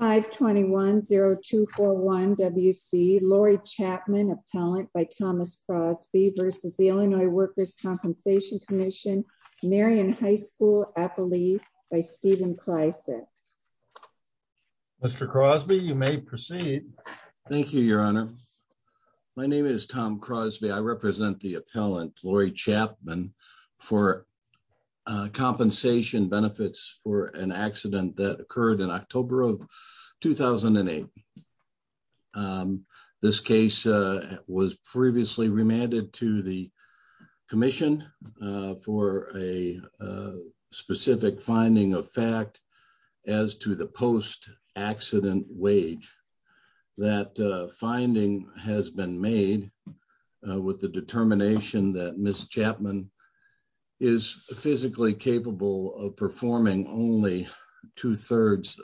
521-0241-WC Lori Chapman, appellant by Thomas Crosby v. Illinois Workers' Compensation Comm'n Marion High School, appellee by Stephen Klesik. Mr. Crosby, you may proceed. Thank you, Your Honor. My name is Tom Crosby. I represent the appellant, Lori Chapman, for compensation benefits for an accident that occurred in October of 2008. This case was previously remanded to the commission for a specific finding of fact as to the post-accident wage. That finding has been made with the determination that Ms. Chapman is physically capable of performing only two-thirds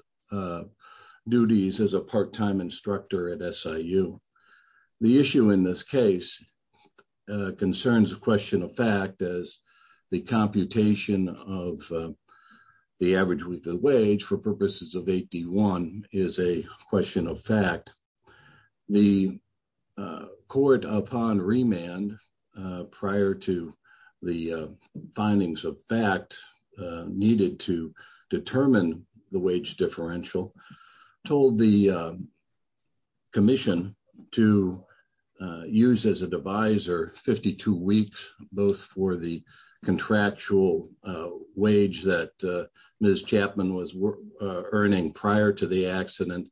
duties as a part-time instructor at SIU. The issue in this case concerns a question of fact as the computation of the average wage for purposes of 8D1 is a question of fact. The court, upon remand prior to the findings of fact needed to determine the wage differential, told the commission to use as a divisor 52 weeks, both for the contractual wage that Ms. Chapman was earning prior to the accident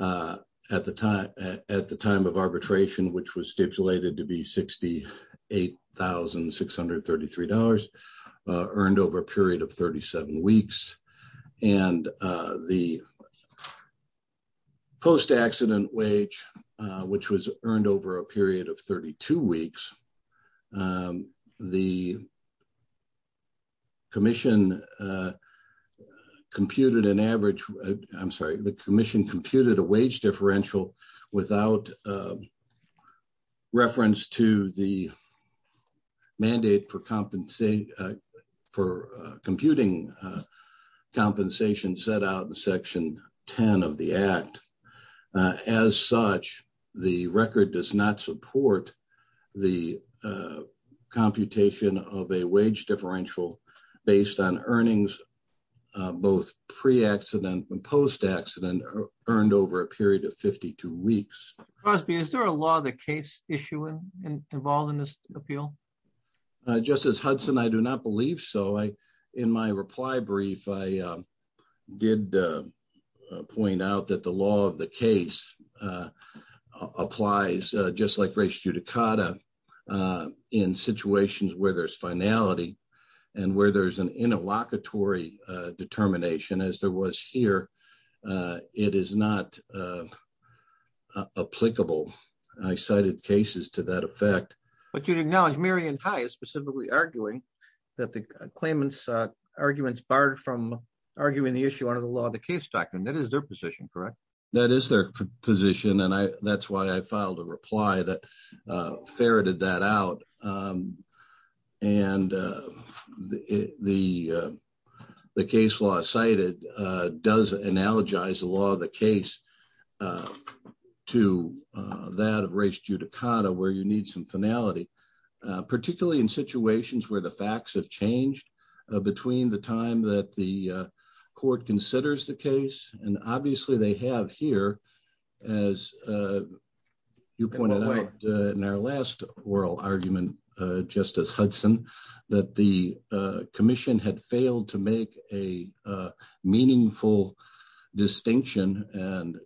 at the time of arbitration, which was stipulated to be $68,633, earned over a period of 37 weeks. And the post-accident wage, which was earned over a period of 32 weeks, the commission computed a wage differential without reference to the mandate for computing compensation set out in section 10 of the act. As such, the record does not support the computation of a wage differential based on earnings, both pre-accident and post-accident, earned over a period of 52 weeks. Mr. Crosby, is there a law the case issue involved in this appeal? Justice Hudson, I do not believe so. In my reply brief, I did point out that the law of the case applies, just like race judicata, in situations where there's finality and where there's an interlocutory determination, as there was here. It is not applicable. I cited cases to that effect. But you acknowledge Marion High is specifically arguing that the claimant's arguments barred from arguing the issue under the law of the case doctrine. That is their position, correct? That is their position, and that's why I filed a reply that ferreted that out. And the case law cited does analogize the law of the case to that of race judicata, where you need some finality, particularly in situations where the facts have changed between the time that the court considers the case. And obviously, they have here, as you pointed out in our last oral argument, Justice Hudson, that the commission had failed to make a decision on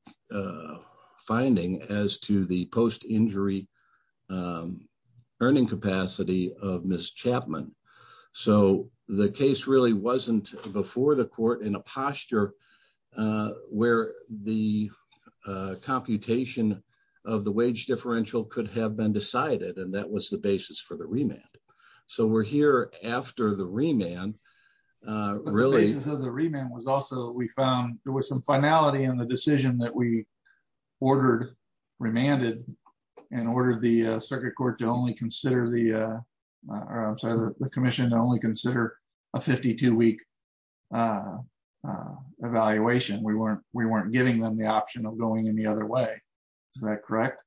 the earning capacity of Ms. Chapman. So the case really wasn't before the court in a posture where the computation of the wage differential could have been decided, and that was the basis for the remand. So we're here after the remand. But the basis of the remand was also, we found there was some finality in the decision that we circuit court to only consider the commission to only consider a 52-week evaluation. We weren't giving them the option of going any other way. Is that correct?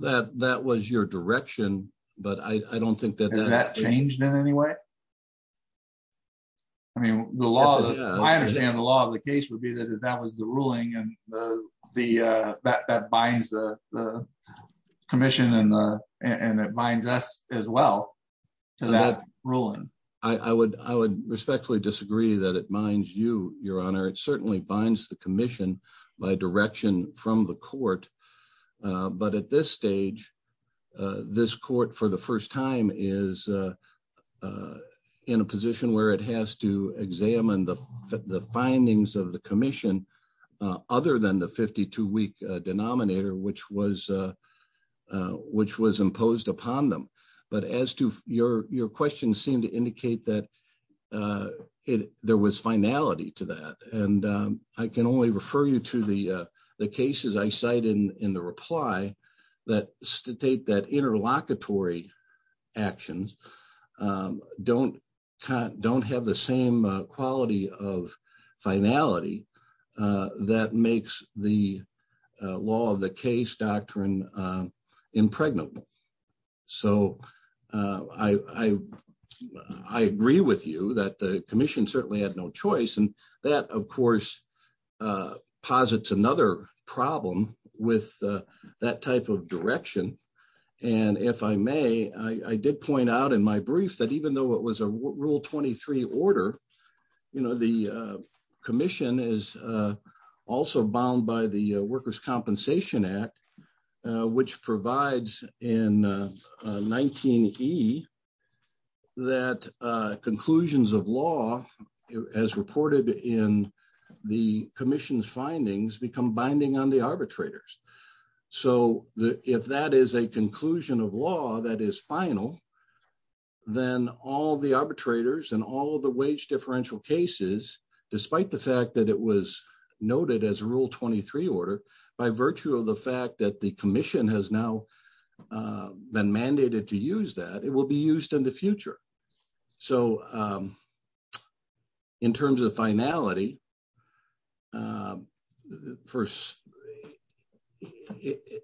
That was your direction, but I don't think that that changed in any way. I mean, I understand the law of the case would be that if that was the ruling, and that binds the commission, and it binds us as well to that ruling. I would respectfully disagree that it binds you, Your Honor. It certainly binds the commission by direction from the court. But at this stage, this court for the first time is a in a position where it has to examine the findings of the commission other than the 52-week denominator which was imposed upon them. But as to your question seemed to indicate that there was finality to that. And I can only refer you to the cases I cited in the reply that state that interlocutory actions don't have the same quality of finality that makes the law of the case doctrine impregnable. So I agree with you that the commission certainly had no choice. And that, of course, posits another problem with that type of direction. And if I may, I did point out in my brief that even though it was a Rule 23 order, the commission is also bound by the Workers' Compensation Act, which provides in 19E that conclusions of law as reported in the commission's findings become binding on the arbitrators. So if that is a conclusion of law that is final, then all the arbitrators and all the wage differential cases, despite the fact that it was noted as a Rule 23 order, by virtue of the fact that the commission has now been mandated to use that, it will be used in the future. So in terms of finality,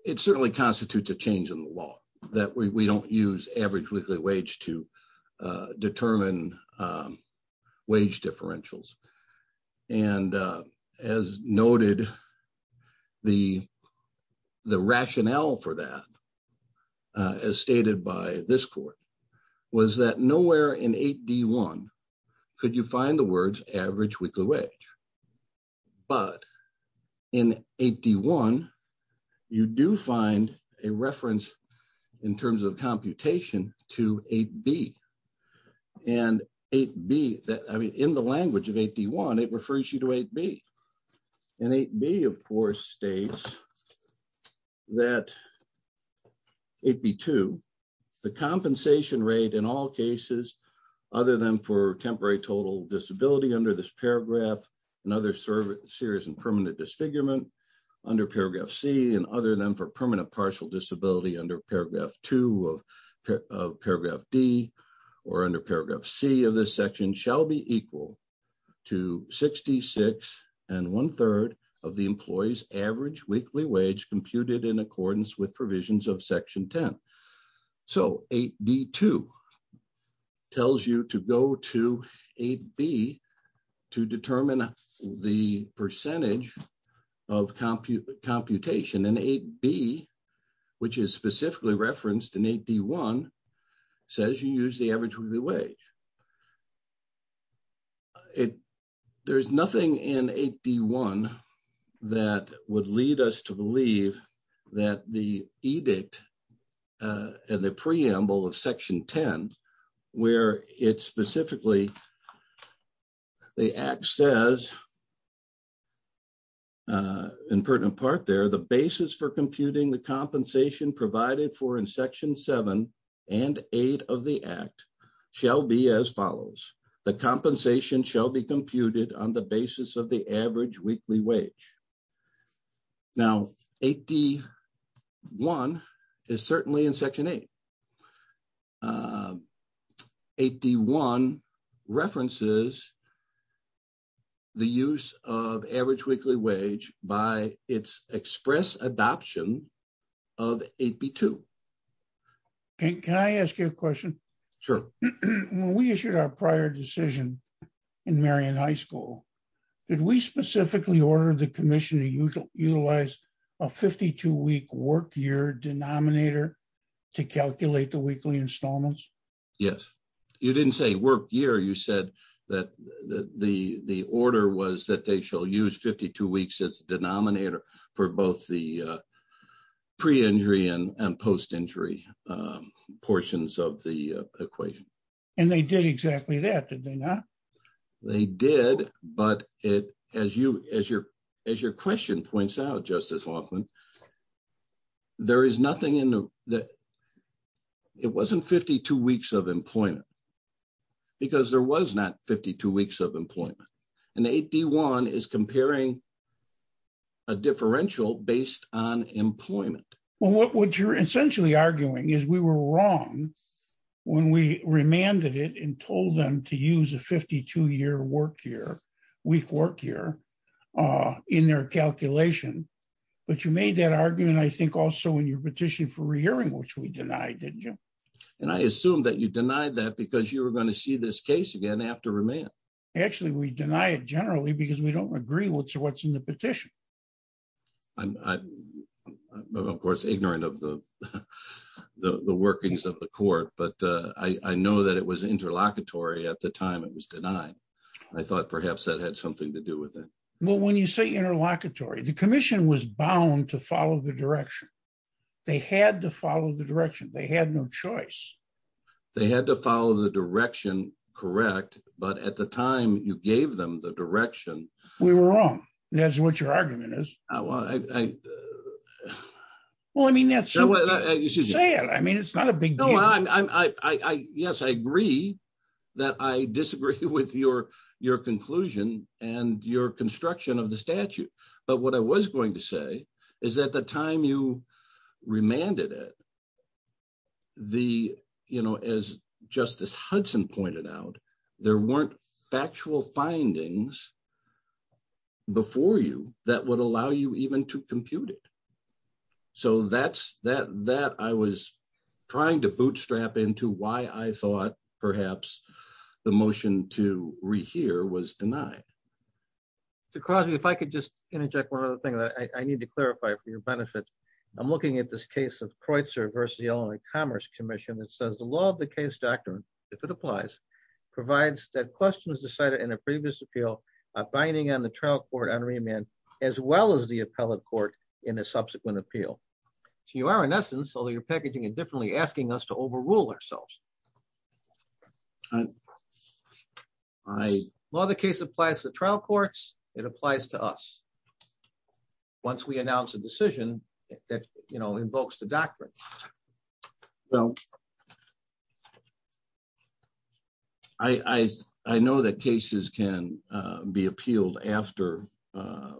it certainly constitutes a change in the law that we don't use average weekly wage to determine wage differentials. And as noted, the rationale for that, as stated by this court, was that nowhere in 8D1 could you find the words average weekly wage. But in 8D1, you do find a reference in terms of computation to 8B. And 8B, in the language of 8D1, it refers you to 8B. And 8B, of course, states that 8B2, the compensation rate in all and other serious and permanent disfigurement under paragraph C and other than for permanent partial disability under paragraph 2 of paragraph D or under paragraph C of this section shall be equal to 66 and one-third of the employee's average weekly wage computed in accordance with provisions of section 10. So 8D2 tells you to go to 8B to determine the percentage of computation. And 8B, which is specifically referenced in 8D1, says you use the average weekly wage. There's nothing in 8D1 that would lead us to believe that the edict and the preamble of section 10, where it specifically, the act says, in pertinent part there, the basis for computing the compensation provided for in section 7 and 8 of the act shall be as follows. The compensation shall be computed on the basis of the average weekly wage. Now, 8D1 is certainly in section 8. 8D1 references the use of average weekly wage by its express adoption of 8B2. Can I ask you a question? Sure. When we issued our prior decision in Marion High School, did we specifically order the commission to utilize a 52-week work year denominator to calculate the weekly installments? Yes. You didn't say work year. You said that the order was that they shall use 52 weeks as the denominator for both the pre-injury and post-injury portions of the equation. And they did exactly that, did they not? They did, but as your question points out, Justice Hoffman, there is nothing in the, it wasn't 52 weeks of employment because there was not 52 weeks of employment. And 8D1 is comparing a differential based on employment. Well, what you're essentially arguing is we were wrong when we remanded it and told them to use a 52-year work year, week work year, in their calculation. But you made that argument, I think, also in your petition for re-hearing, which we denied, didn't you? And I assume that you denied that because you were going to see this case again after remand. Actually, we deny it generally because we don't agree what's in the petition. I'm, of course, ignorant of the workings of the court, but I know that it was interlocutory at the time it was denied. I thought perhaps that had something to do with it. Well, when you say interlocutory, the commission was bound to follow the direction. They had to follow the direction. They had no choice. They had to follow the direction, correct, but at the time you gave them the direction. We were wrong. That's what your argument is. Well, I mean, it's not a big deal. Yes, I agree that I disagree with your conclusion and your construction of the statute, but what I was going to say is at the time you remanded it, as Justice Hudson pointed out, there weren't factual findings before you that would allow you even to compute it. So that I was trying to bootstrap into why I thought perhaps the motion to rehear was denied. Mr. Crosby, if I could just interject one other thing. I need to clarify for your benefit. I'm looking at this case of Kreutzer versus the Illinois Commerce Commission that says the law of the case doctrine, if it applies, provides that questions decided in a previous appeal are binding on the trial court on remand as well as the appellate court in a subsequent appeal. So you are, in essence, although you're packaging it differently, asking us to overrule ourselves. Well, the case applies to trial courts. It applies to us. Once we announce a decision that invokes the doctrine. Well, I know that cases can be appealed after there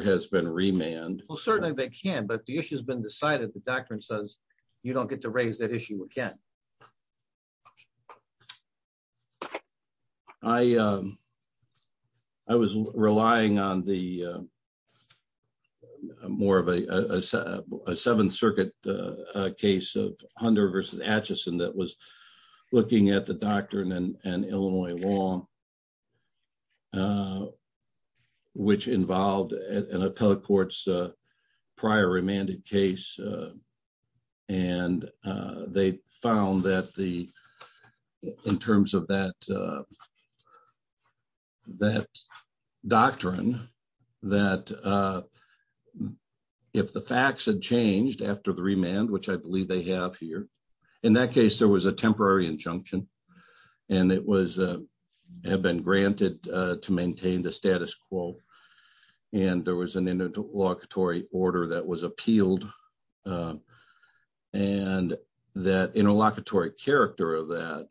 has been remand. Well, certainly they can, but the issue has been decided. The doctrine says you don't get to raise that issue again. I was relying on more of a Seventh Circuit case of Hunter versus Atchison that was prior remanded case. And they found that in terms of that doctrine, that if the facts had changed after the remand, which I believe they have here, in that case, there was a temporary injunction and it had been granted to maintain the status quo. And there was an interlocutory order that was appealed and that interlocutory character of that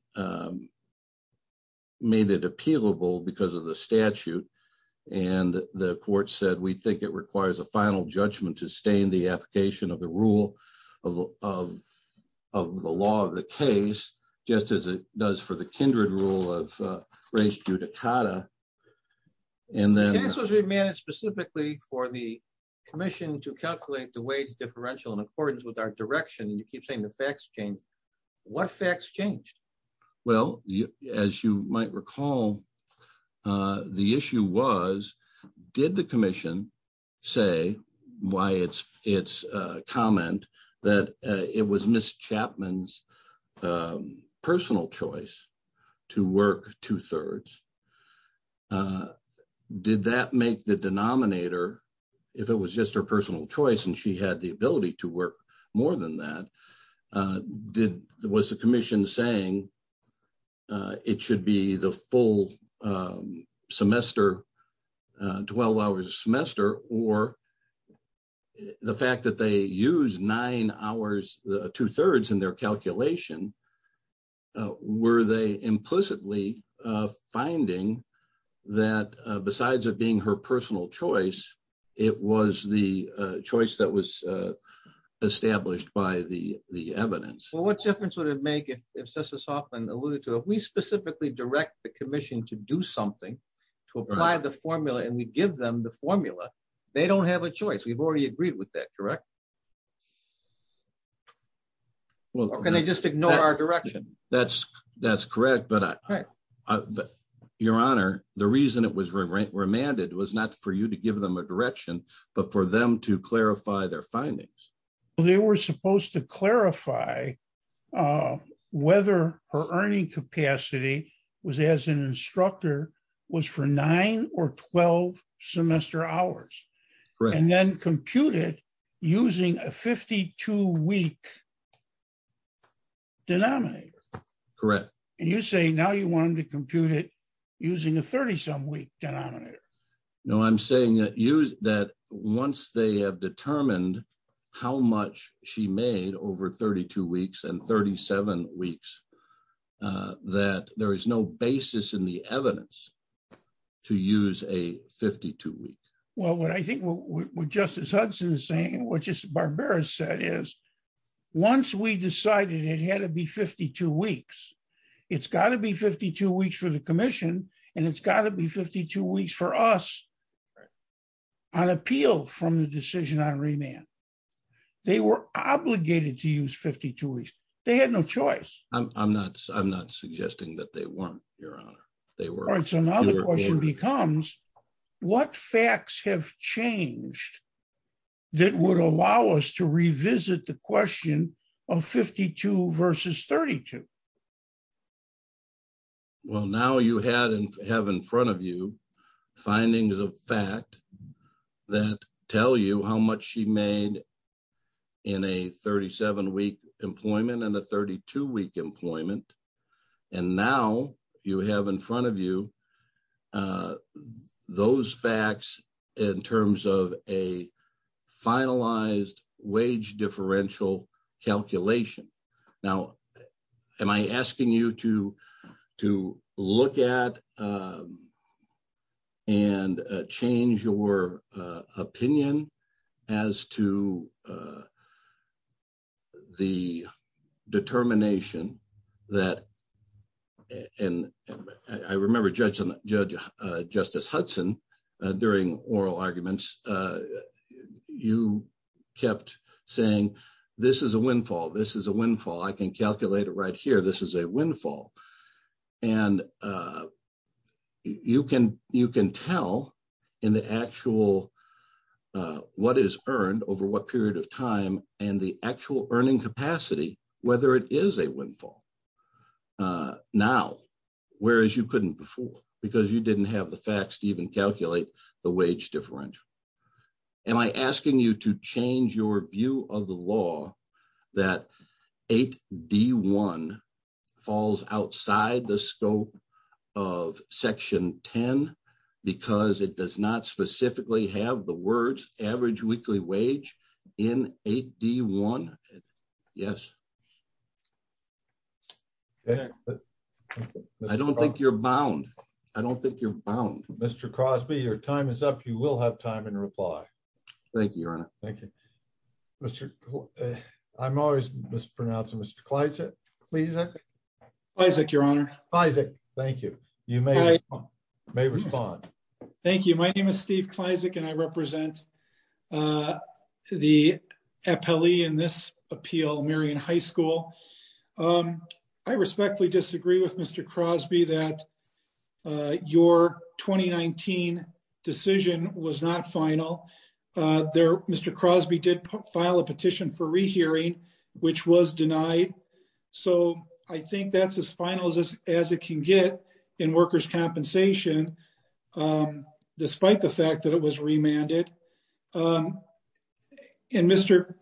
made it appealable because of the statute. And the court said, we think it requires a final judgment to stay in the application of the rule of the law of the case, just as it does for the case of Atchison versus Atchison. For the commission to calculate the wage differential in accordance with our direction, and you keep saying the facts change, what facts changed? Well, as you might recall, the issue was, did the commission say why it's comment that it was Ms. Chapman's personal choice to work two-thirds? Did that make the denominator, if it was just her personal choice and she had the ability to work more than that, was the commission saying it should be the full semester, 12 hours a semester, or was the fact that they use nine hours, two-thirds in their calculation, were they implicitly finding that besides it being her personal choice, it was the choice that was established by the evidence? Well, what difference would it make if Justice Hoffman alluded to, if we specifically direct the commission to do something, to apply the formula and we give them the formula, they don't have a choice. We've already agreed with that, correct? Can they just ignore our direction? That's correct, but Your Honor, the reason it was remanded was not for you to give them a direction, but for them to clarify their findings. Well, they were supposed to clarify whether her earning capacity was as an instructor, was for nine or 12 semester hours, and then compute it using a 52-week denominator. Correct. And you're saying now you want them to compute it using a 30-some-week denominator. No, I'm saying that once they have determined how much she made over 32 weeks and 37 weeks, that there is no basis in the evidence to use a 52-week. Well, what I think what Justice Hudson is saying, what Justice Barbera said is, once we decided it had to be 52 weeks, it's got to be 52 weeks for the commission, and it's got to be 52 weeks for us on appeal from the decision on remand. They were obligated to use 52 weeks. They had no choice. I'm not suggesting that they weren't, Your Honor. All right, so now the question becomes, what facts have changed that would allow us to revisit the question of 52 versus 32? Well, now you have in front of you findings of fact that tell you how much she made in a 37-week employment and a 32-week employment, and now you have in front of you those facts in terms of a finalized wage differential calculation. Now, am I asking you to look at and change your opinion as to the determination that—and I remember, Justice Hudson, during oral arguments, you kept saying, this is a windfall, this is a windfall, I can calculate it right here, this is a windfall. And you can tell in the actual what is earned over what period of time and the actual earning capacity whether it is a windfall now, whereas you couldn't before, because you didn't have the facts to even calculate the wage differential. Am I asking you to change your view of the law that 8D1 falls outside the scope of Section 10 because it does not specifically have the words average weekly wage in 8D1? Yes. I don't think you're bound. I don't think you're bound. Mr. Crosby, your time is up. You will have time in reply. Thank you, Your Honor. Thank you. Mr.—I'm always mispronouncing. Mr. Kleizek? Kleizek, Your Honor. Kleizek, thank you. You may respond. Thank you. My name is Steve Kleizek, and I represent the appellee in this appeal, Marion High School. I respectfully disagree with Mr. Crosby that your 2019 decision was not final. Mr. Crosby did file a petition for rehearing, which was denied. So I think that's as final as it can get in workers' compensation, despite the fact that it was remanded. And Mr.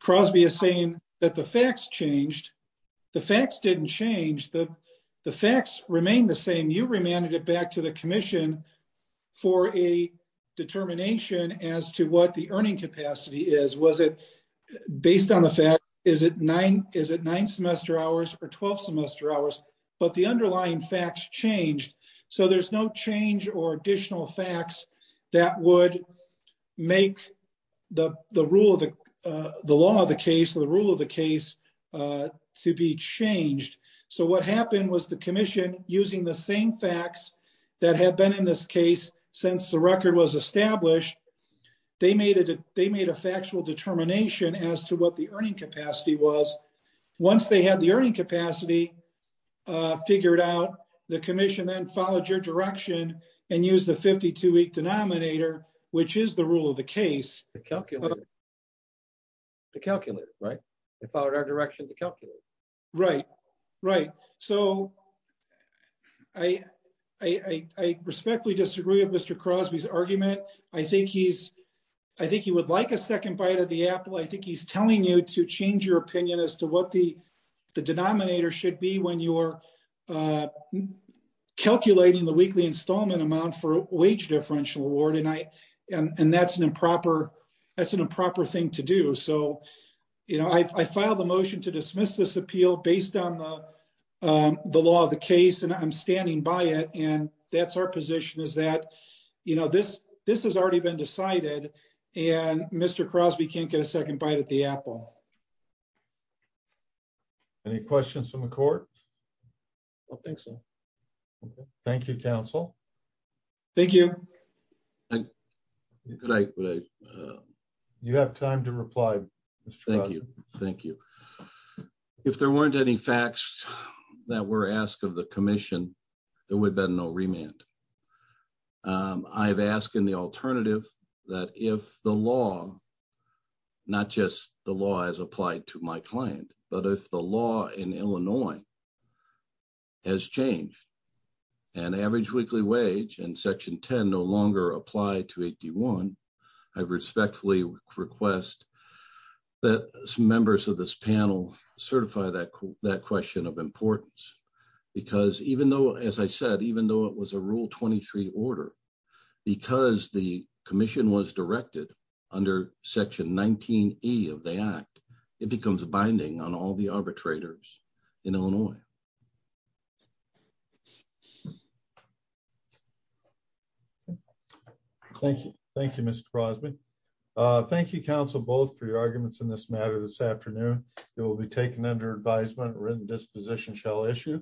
Crosby is saying that the facts changed. The facts didn't change. The facts remain the same. You remanded it back to the commission for a determination as to what the earning capacity is. Based on the fact, is it nine semester hours or 12 semester hours? But the underlying facts changed. So there's no change or additional facts that would make the rule of the—the law of the case or the rule of the case to be changed. So what happened was the commission, using the same facts that have been in this case since the record was established, they made a factual determination as to what the earning capacity was. Once they had the earning capacity figured out, the commission then followed your direction and used a 52-week denominator, which is the rule of the case. The calculator, right? They followed our direction, the calculator. Right, right. So I respectfully disagree with Mr. Crosby's argument. I think he's—I think he would like a second bite of the apple. I think he's telling you to change your opinion as to what the denominator should be when you're calculating the weekly installment amount for wage differential award, and I—and that's an improper—that's an improper thing to do. So, you know, I filed a motion to dismiss this appeal based on the law of the case, and I'm standing by it, and that's our position, is that, you know, this—this has already been decided, and Mr. Crosby can't get a second bite of the apple. Any questions from the court? I don't think so. Okay. Thank you, counsel. Thank you. You have time to reply, Mr. Crosby. Thank you. Thank you. If there weren't any facts that were asked of the commission, there would have been no remand. I've asked in the alternative that if the law, not just the law as applied to my client, but if the law in Illinois has changed and average weekly wage in Section 10 no longer applied to 81, I respectfully request that some members of this panel certify that question of importance, because even though, as I said, even though it was a Rule 23 order, because the commission was directed under Section 19E of the Act, it becomes binding on all the arbitrators in Illinois. Thank you. Thank you, Mr. Crosby. Thank you, counsel, both, for your arguments in this matter this afternoon. It will be taken under advisement, written disposition shall issue.